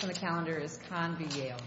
Kan v. Yale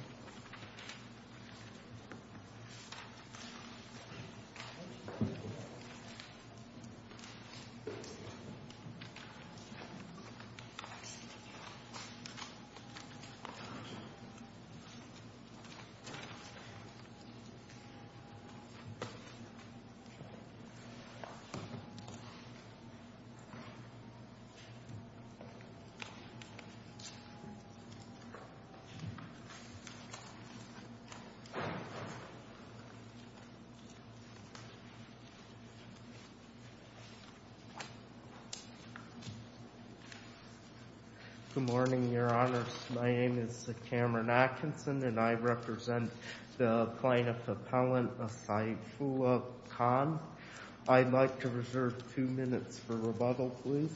Good morning, Your Honors. My name is Cameron Atkinson, and I represent the plaintiff appellant Asaifullah Khan. I'd like to reserve two minutes for rebuttal, please.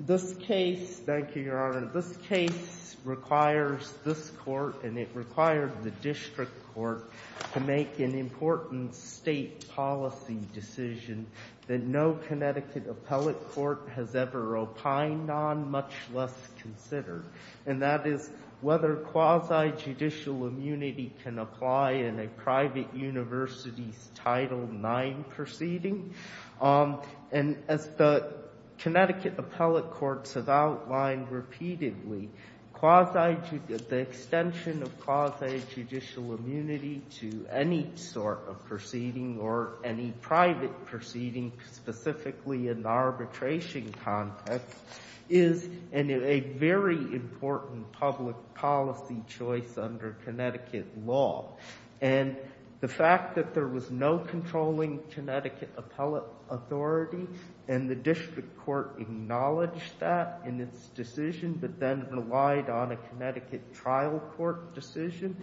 This case, thank you, Your Honor. This case requires this court, and it requires the district court, to make an important state policy decision that no Connecticut appellate court has ever opined on, much less considered, and that is whether quasi-judicial immunity can apply in a private university's Title IX proceeding. And as the Connecticut appellate courts have outlined repeatedly, the extension of quasi-judicial immunity to any sort of proceeding or any private proceeding, specifically in the arbitration context, is a very important public policy choice under Connecticut law. And the fact that there was no controlling Connecticut appellate authority, and the district court acknowledged that in its decision, but then relied on a Connecticut trial court decision,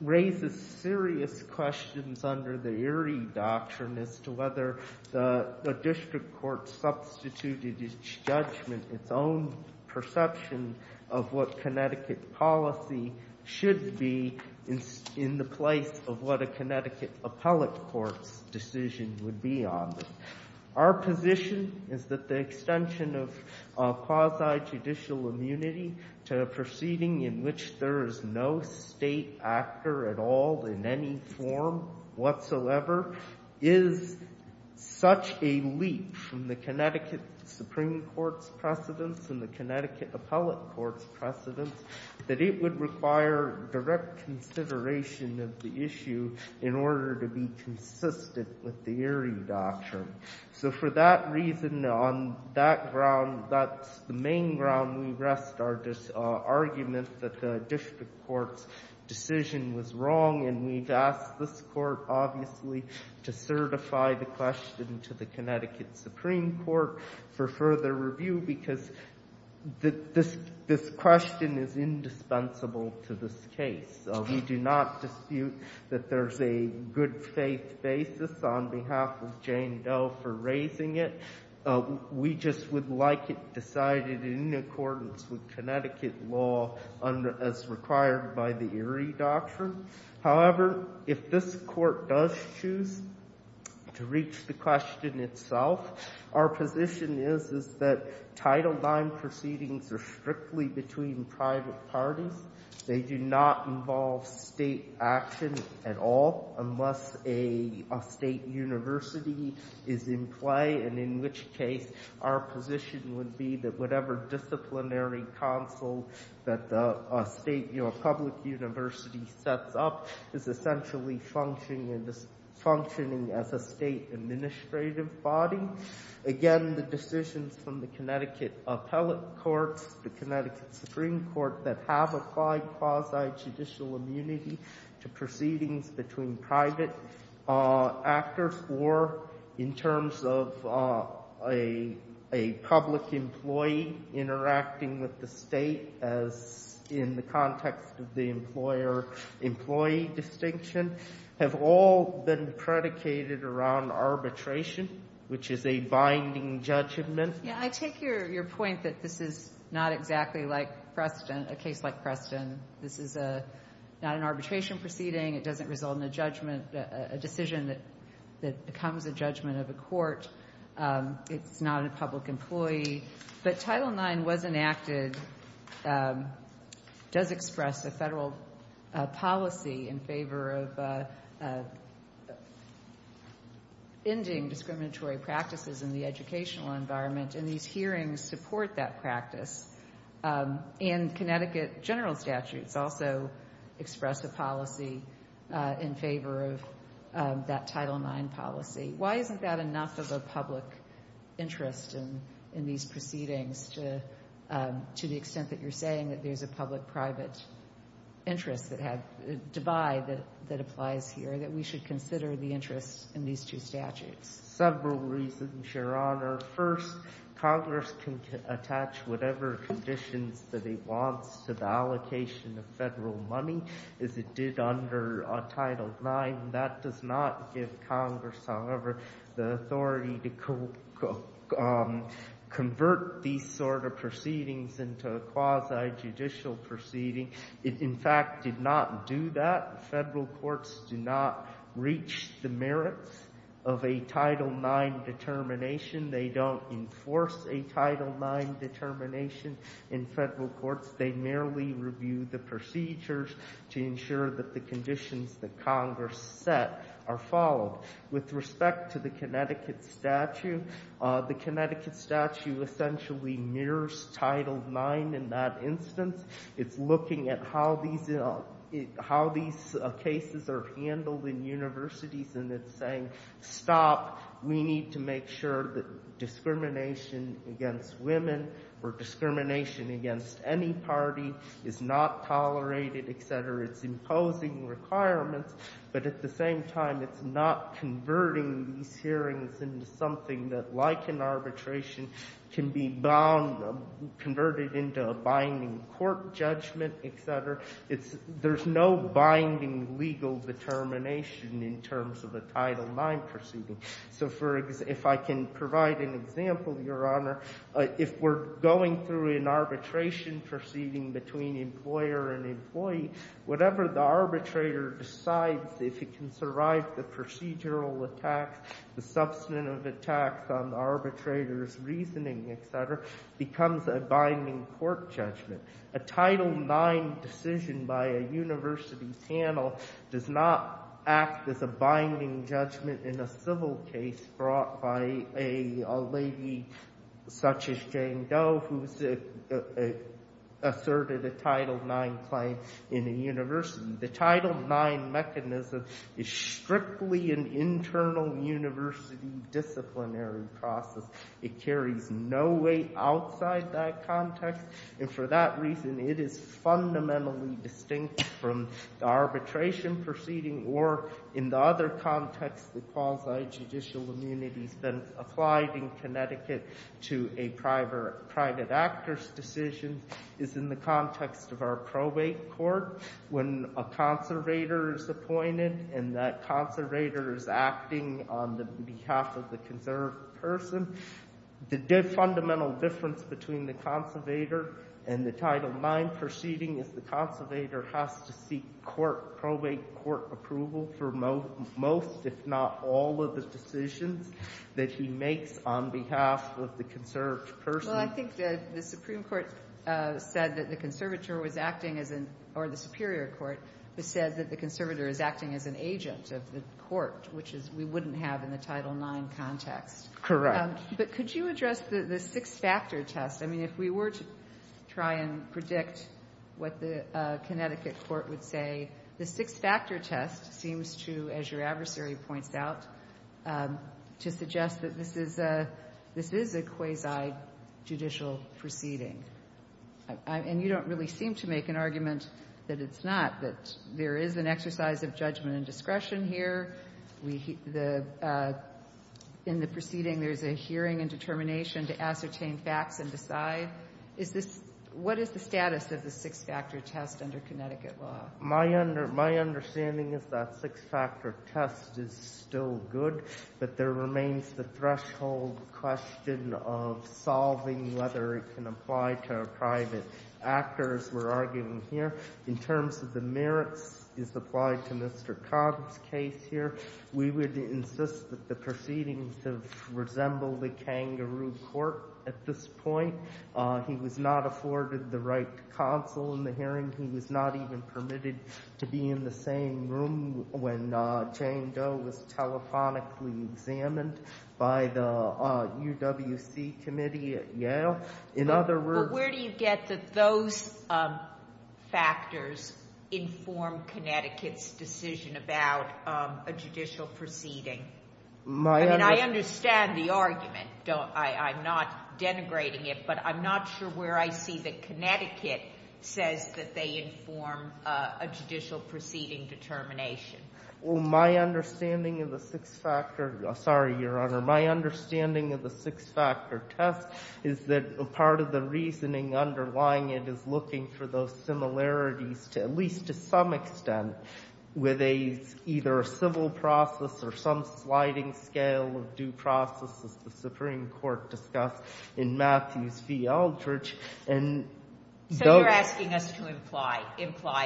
raises serious questions under the Erie Doctrine as to whether the district court substituted its judgment, its own perception, of what Connecticut policy should be in the place of what a Connecticut appellate court's decision would be on. Our position is that the extension of quasi-judicial immunity to a proceeding in which there is no state actor at all in any form whatsoever is such a leap from the Connecticut Supreme Court's precedence and the Connecticut appellate court's precedence that it would require direct consideration of the issue in order to be consistent with the Erie Doctrine. So for that reason, on that ground, that's the main ground we rest our argument that the district court's decision was wrong. And we've asked this Court, obviously, to certify the question to the Connecticut Supreme Court for further review, because this question is indispensable to this case. We do not dispute that there's a good-faith basis on behalf of Jane Doe for raising it. We just would like it decided in accordance with Connecticut law as required by the Erie Doctrine. However, if this Court does choose to reach the question itself, our position is that Title IX proceedings are strictly between private parties. They do not involve state action at all unless a state university is in play, and in which case our position would be that whatever disciplinary council that a public university sets up is essentially functioning as a state administrative body. Again, the decisions from the Connecticut appellate courts, the Connecticut Supreme Court that have applied quasi-judicial immunity to proceedings between private actors, or in terms of a public employee interacting with the state as in the context of the employer-employee distinction, have all been predicated around arbitration, which is a binding judgment. in the educational environment, and these hearings support that practice. And Connecticut general statutes also express a policy in favor of that Title IX policy. Why isn't that enough of a public interest in these proceedings to the extent that you're saying that there's a public-private divide that applies here, that we should consider the interest in these two statutes? There are several reasons, Your Honor. First, Congress can attach whatever conditions that it wants to the allocation of federal money, as it did under Title IX. That does not give Congress, however, the authority to convert these sort of proceedings into quasi-judicial proceedings. It, in fact, did not do that. Federal courts do not reach the merits of a Title IX determination. They don't enforce a Title IX determination in federal courts. They merely review the procedures to ensure that the conditions that Congress set are followed. With respect to the Connecticut statute, the Connecticut statute essentially mirrors Title IX in that instance. It's looking at how these cases are handled in universities, and it's saying, stop, we need to make sure that discrimination against women or discrimination against any party is not tolerated, etc. It's imposing requirements, but at the same time, it's not converting these hearings into something that, like an arbitration, can be converted into a binding court judgment, etc. There's no binding legal determination in terms of a Title IX proceeding. So if I can provide an example, Your Honor, if we're going through an arbitration proceeding between employer and employee, whatever the arbitrator decides, if it can survive the procedural attacks, the substantive attacks on the arbitrator's reasoning, etc., becomes a binding court judgment. A Title IX decision by a university panel does not act as a binding judgment in a civil case brought by a lady such as Jane Doe, who asserted a Title IX claim in a university. The Title IX mechanism is strictly an internal university disciplinary process. It carries no weight outside that context, and for that reason, it is fundamentally distinct from the arbitration proceeding or, in the other context, the quasi-judicial immunities that applied in Connecticut to a private actor's decision is in the context of our probate court. When a conservator is appointed and that conservator is acting on behalf of the conserved person, the fundamental difference between the conservator and the Title IX proceeding is the conservator has to seek court, probate court approval for most, if not all, of the decisions that he makes on behalf of the conserved person. Kagan. Well, I think that the Supreme Court said that the conservator was acting as an or the superior court said that the conservator is acting as an agent of the court, which is we wouldn't have in the Title IX context. Correct. But could you address the six-factor test? I mean, if we were to try and predict what the Connecticut court would say, the six-factor test seems to, as your adversary points out, to suggest that this is a quasi-judicial proceeding. And you don't really seem to make an argument that it's not, that there is an exercise of judgment and discretion here. In the proceeding, there's a hearing and determination to ascertain facts and decide. Is this — what is the status of the six-factor test under Connecticut law? My understanding is that six-factor test is still good, but there remains the threshold question of solving whether it can apply to a private actor, as we're arguing here. In terms of the merits, as applied to Mr. Cobb's case here, we would insist that the proceedings have resembled a kangaroo court at this point. He was not afforded the right to counsel in the hearing. He was not even permitted to be in the same room when Jane Doe was telephonically examined by the UWC committee at Yale. In other words — But where do you get that those factors inform Connecticut's decision about a judicial proceeding? I mean, I understand the argument. I'm not denigrating it, but I'm not sure where I see that Connecticut says that they inform a judicial proceeding determination. Well, my understanding of the six-factor — sorry, Your Honor. It's either a civil process or some sliding scale of due process, as the Supreme Court discussed in Matthews v. Aldrich. And — So you're asking us to imply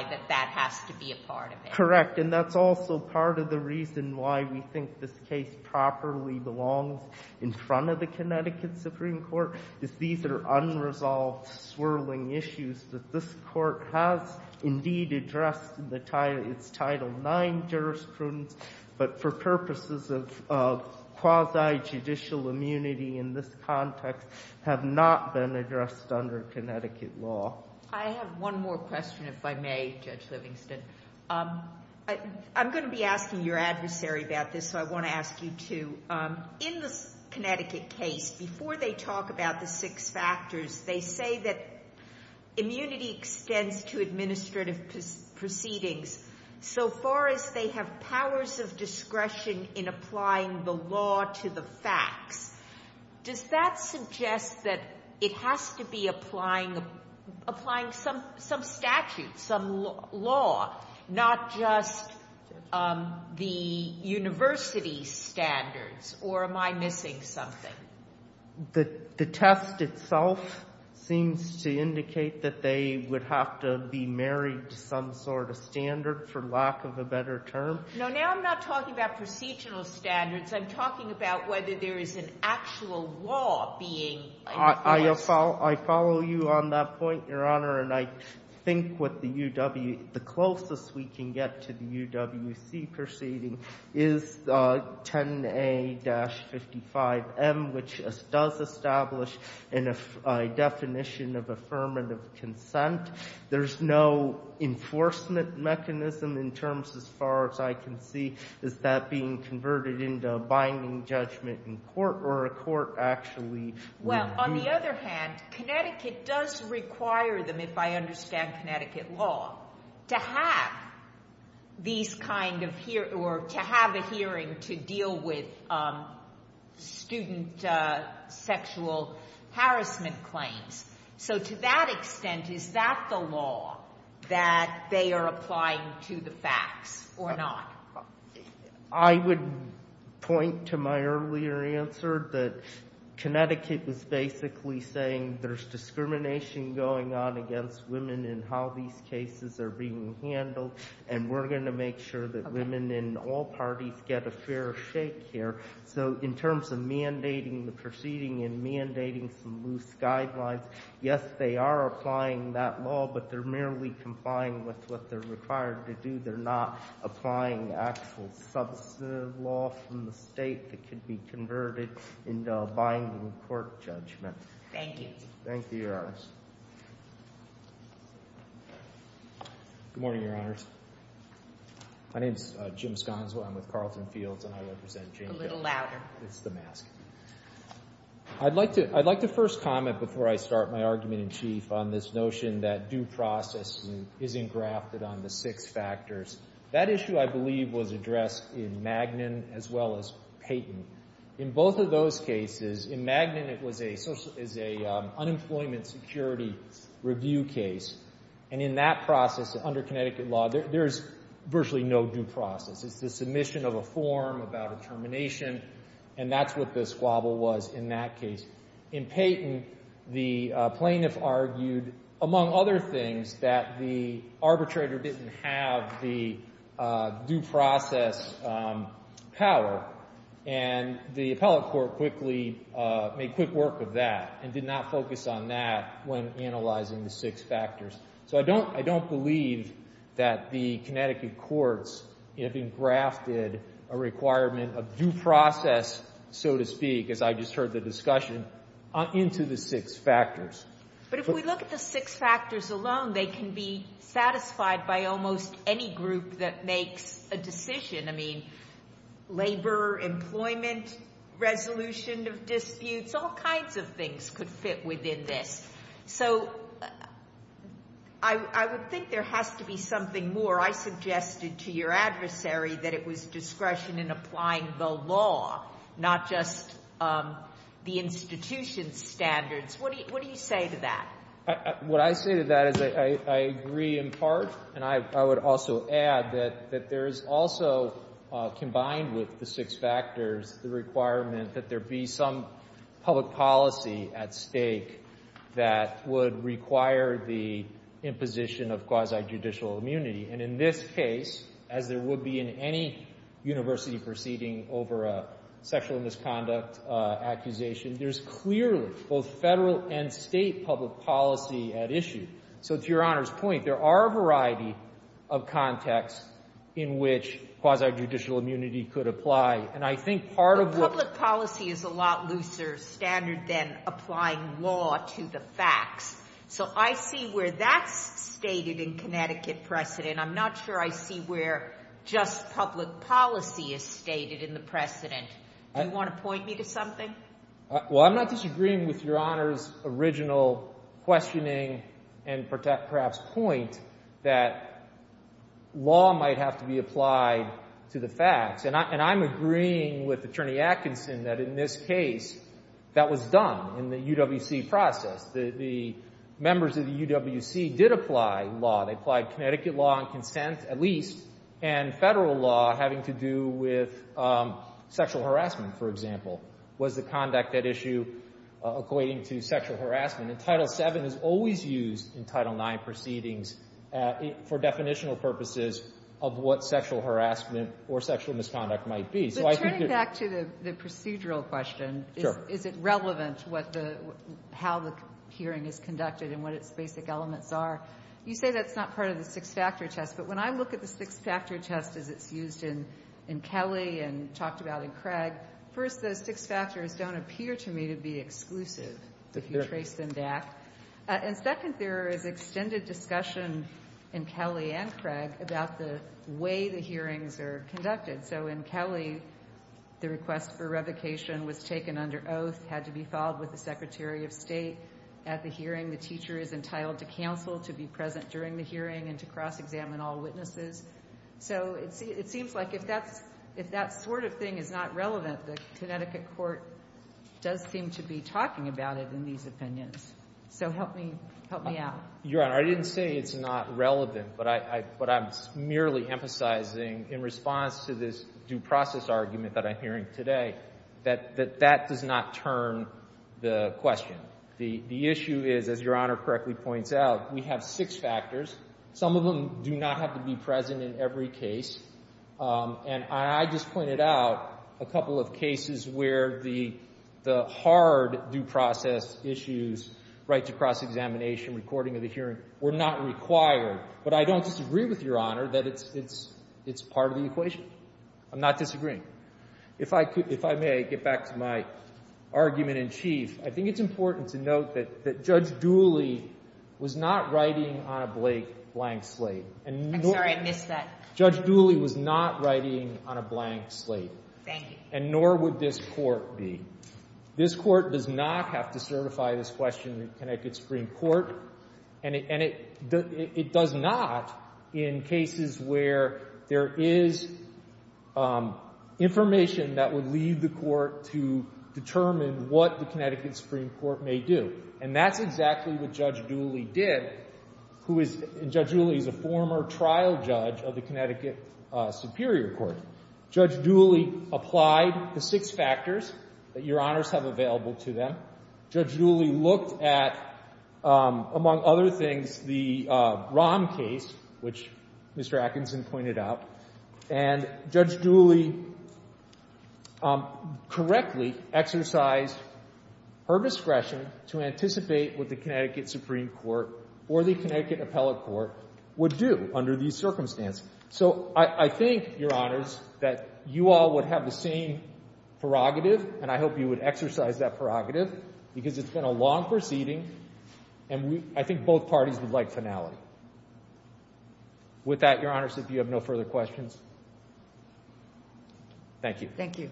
that that has to be a part of it. Correct. And that's also part of the reason why we think this case properly belongs in front of the Connecticut Supreme Court, is these are unresolved, swirling issues that this Court has indeed addressed. It's Title IX jurisprudence, but for purposes of quasi-judicial immunity in this context, have not been addressed under Connecticut law. I have one more question, if I may, Judge Livingston. I'm going to be asking your adversary about this, so I want to ask you, too. In the Connecticut case, before they talk about the six factors, they say that immunity extends to administrative proceedings, so far as they have powers of discretion in applying the law to the facts. Does that suggest that it has to be applying some statute, some law, not just the university standards, or am I missing something? The test itself seems to indicate that they would have to be married to some sort of standard, for lack of a better term. No, now I'm not talking about procedural standards. I'm talking about whether there is an actual law being enforced. I follow you on that point, Your Honor, and I think what the closest we can get to the UWC proceeding is 10A-55M, which does establish a definition of affirmative consent. There's no enforcement mechanism in terms, as far as I can see. Is that being converted into a binding judgment in court, or a court actually would be? Well, on the other hand, Connecticut does require them, if I understand Connecticut law, to have these kind of hearings, or to have a hearing to deal with student sexual harassment claims. So to that extent, is that the law that they are applying to the facts, or not? I would point to my earlier answer that Connecticut was basically saying there's discrimination going on against women in how these cases are being handled, and we're going to make sure that women in all parties get a fair shake here. So in terms of mandating the proceeding and mandating some loose guidelines, yes, they are applying that law, but they're merely complying with what they're required to do. They're not applying actual substantive law from the state that could be converted into a binding court judgment. Thank you. Thank you, Your Honors. Good morning, Your Honors. My name's Jim Sconzell. I'm with Carlton Fields, and I represent JICA. A little louder. It's the mask. I'd like to first comment before I start my argument in chief on this notion that due process isn't grafted on the six factors. That issue, I believe, was addressed in Magnin as well as Payton. In both of those cases, in Magnin it was a unemployment security review case, and in that process, under Connecticut law, there is virtually no due process. It's the submission of a form about a termination, and that's what the squabble was in that case. In Payton, the plaintiff argued, among other things, that the arbitrator didn't have the due process power, and the appellate court quickly made quick work of that and did not focus on that when analyzing the six factors. So I don't believe that the Connecticut courts have engrafted a requirement of due process, so to speak, as I just heard the discussion, into the six factors. But if we look at the six factors alone, they can be satisfied by almost any group that makes a decision. I mean, labor, employment, resolution of disputes, all kinds of things could fit within this. So I would think there has to be something more. I suggested to your adversary that it was discretion in applying the law, not just the institution's standards. What do you say to that? What I say to that is I agree in part, and I would also add that there is also, combined with the six factors, the requirement that there be some public policy at stake that would require the imposition of quasi-judicial immunity. And in this case, as there would be in any university proceeding over a sexual misconduct accusation, there's clearly both Federal and State public policy at issue. So to Your Honor's point, there are a variety of contexts in which quasi-judicial immunity could apply. And I think part of the ---- Sotomayor, but public policy is a lot looser standard than applying law to the facts. So I see where that's stated in Connecticut precedent. I'm not sure I see where just public policy is stated in the precedent. Do you want to point me to something? Well, I'm not disagreeing with Your Honor's original questioning and perhaps point that law might have to be applied to the facts. And I'm agreeing with Attorney Atkinson that in this case that was done in the UWC process. The members of the UWC did apply law. They applied Connecticut law and consent, at least, and Federal law having to do with sexual harassment, for example, was the conduct at issue according to sexual harassment. And Title VII is always used in Title IX proceedings for definitional purposes of what sexual harassment or sexual misconduct might be. So I think that ---- But turning back to the procedural question, is it relevant how the hearing is conducted and what its basic elements are? You say that's not part of the six-factor test. But when I look at the six-factor test as it's used in Kelly and talked about in Craig, first, those six factors don't appear to me to be exclusive if you trace them back. And second, there is extended discussion in Kelly and Craig about the way the hearings are conducted. So in Kelly, the request for revocation was taken under oath, had to be followed with the Secretary of State. At the hearing, the teacher is entitled to counsel, to be present during the hearing, and to cross-examine all witnesses. So it seems like if that sort of thing is not relevant, the Connecticut court does seem to be talking about it in these opinions. So help me out. Your Honor, I didn't say it's not relevant, but I'm merely emphasizing in response to this due process argument that I'm hearing today that that does not turn the question. The issue is, as Your Honor correctly points out, we have six factors. Some of them do not have to be present in every case. And I just pointed out a couple of cases where the hard due process issues, right to cross-examination, recording of the hearing, were not required. But I don't disagree with Your Honor that it's part of the equation. I'm not disagreeing. If I may get back to my argument in chief, I think it's important to note that Judge Dooley was not writing on a blank slate. I'm sorry. I missed that. Judge Dooley was not writing on a blank slate. Thank you. And nor would this Court be. This Court does not have to certify this question in the Connecticut Supreme Court. And it does not in cases where there is information that would lead the Court to determine what the Connecticut Supreme Court may do. And that's exactly what Judge Dooley did, who is – and Judge Dooley is a former trial judge of the Connecticut Superior Court. Judge Dooley applied the six factors that Your Honors have available to them. Judge Dooley looked at, among other things, the Rahm case, which Mr. Atkinson pointed out. And Judge Dooley correctly exercised her discretion to anticipate what the Connecticut Supreme Court or the Connecticut Appellate Court would do under these circumstances. So I think, Your Honors, that you all would have the same prerogative, and I hope you would exercise that prerogative because it's been a long proceeding, and I think both parties would like finality. With that, Your Honors, if you have no further questions. Thank you. Thank you.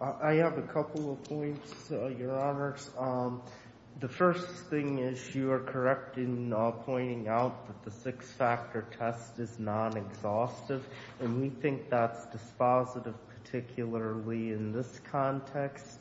I have a couple of points, Your Honors. The first thing is you are correct in pointing out that the six-factor test is non-exhaustive, and we think that's dispositive, particularly in this context.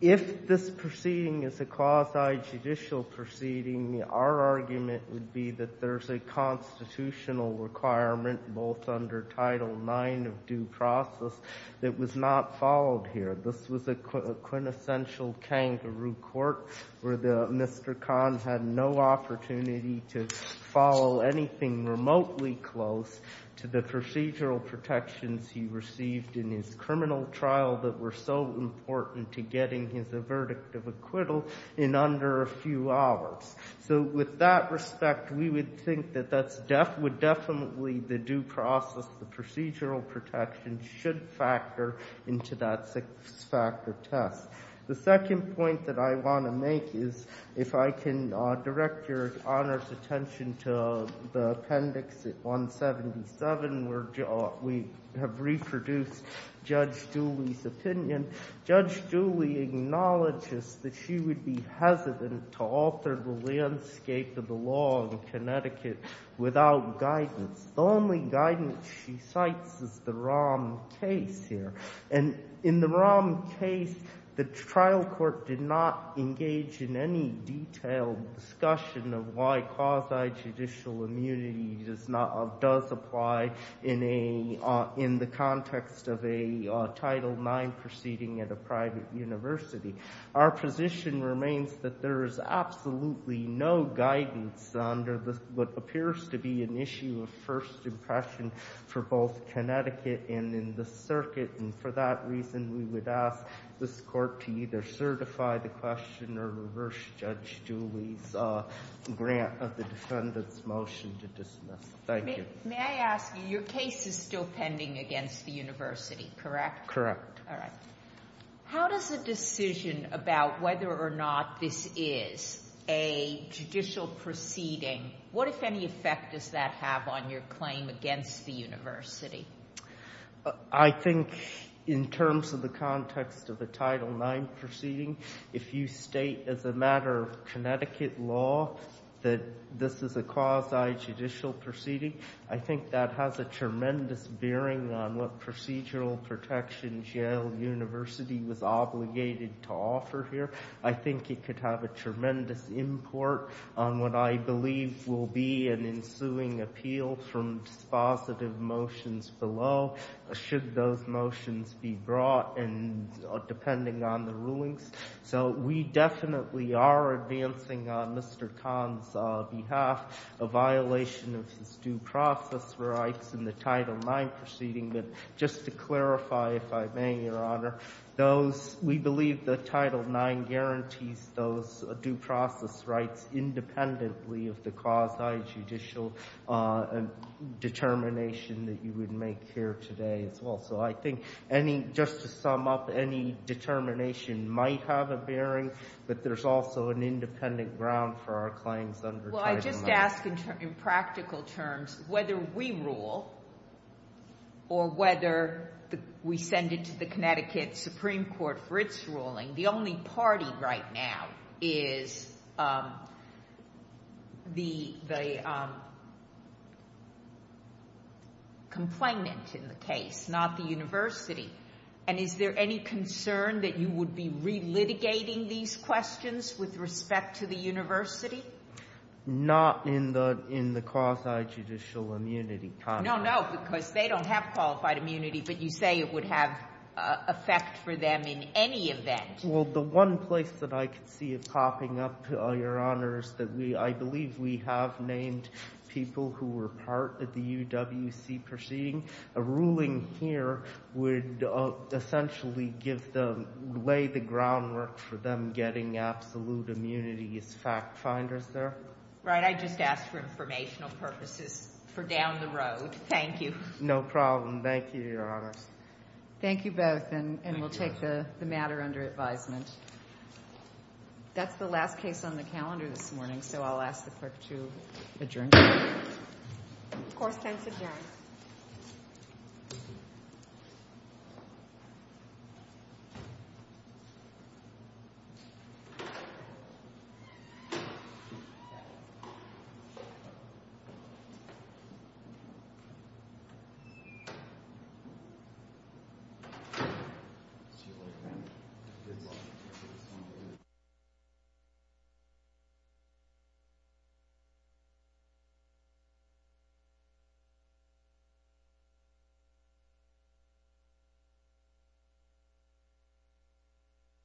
If this proceeding is a quasi-judicial proceeding, our argument would be that there's a constitutional requirement, both under Title IX of due process, that was not followed here. This was a quintessential kangaroo court where Mr. Kahn had no opportunity to follow anything remotely close to the procedural protections he received in his criminal trial that were so important to getting his verdict of acquittal in under a few hours. So with that respect, we would think that that's definitely the due process, the procedural protections should factor into that six-factor test. The second point that I want to make is if I can direct Your Honors' attention to the appendix at 177 where we have reproduced Judge Dooley's opinion. Judge Dooley acknowledges that she would be hesitant to alter the landscape of the law in Connecticut without guidance. The only guidance she cites is the Rahm case here. And in the Rahm case, the trial court did not engage in any detailed discussion of why quasi-judicial immunity does apply in the context of a Title IX proceeding at a private university. Our position remains that there is absolutely no guidance under what appears to be an issue of first impression for both Connecticut and in the circuit. And for that reason, we would ask this court to either certify the question or reverse Judge Dooley's grant of the defendant's motion to dismiss. Thank you. May I ask you, your case is still pending against the university, correct? Correct. All right. How does a decision about whether or not this is a judicial proceeding, what, if any, effect does that have on your claim against the university? I think in terms of the context of the Title IX proceeding, if you state as a matter of Connecticut law that this is a quasi-judicial proceeding, I think that has a tremendous bearing on what procedural protection Yale University was obligated to offer here. I think it could have a tremendous import on what I believe will be an ensuing appeal from dispositive motions below should those motions be brought, and depending on the rulings. So we definitely are advancing on Mr. Kahn's behalf a violation of his due process rights in the Title IX proceeding. But just to clarify, if I may, your Honor, those, we believe the Title IX guarantees those due process rights independently of the quasi-judicial determination that you would make here today as well. So I think any, just to sum up, any determination might have a bearing, but there's also an independent ground for our claims under Title IX. I would ask in practical terms whether we rule or whether we send it to the Connecticut Supreme Court for its ruling. The only party right now is the complainant in the case, not the university. And is there any concern that you would be relitigating these questions with respect to the university? Not in the quasi-judicial immunity context. No, no, because they don't have qualified immunity, but you say it would have effect for them in any event. Well, the one place that I could see it popping up, your Honor, is that I believe we have named people who were part of the UWC proceeding. A ruling here would essentially give them, lay the groundwork for them getting absolute immunity as fact finders there. Right, I just asked for informational purposes for down the road. Thank you. No problem. Thank you, your Honor. Thank you both, and we'll take the matter under advisement. That's the last case on the calendar this morning, so I'll ask the clerk to adjourn. Court is adjourned. Thank you.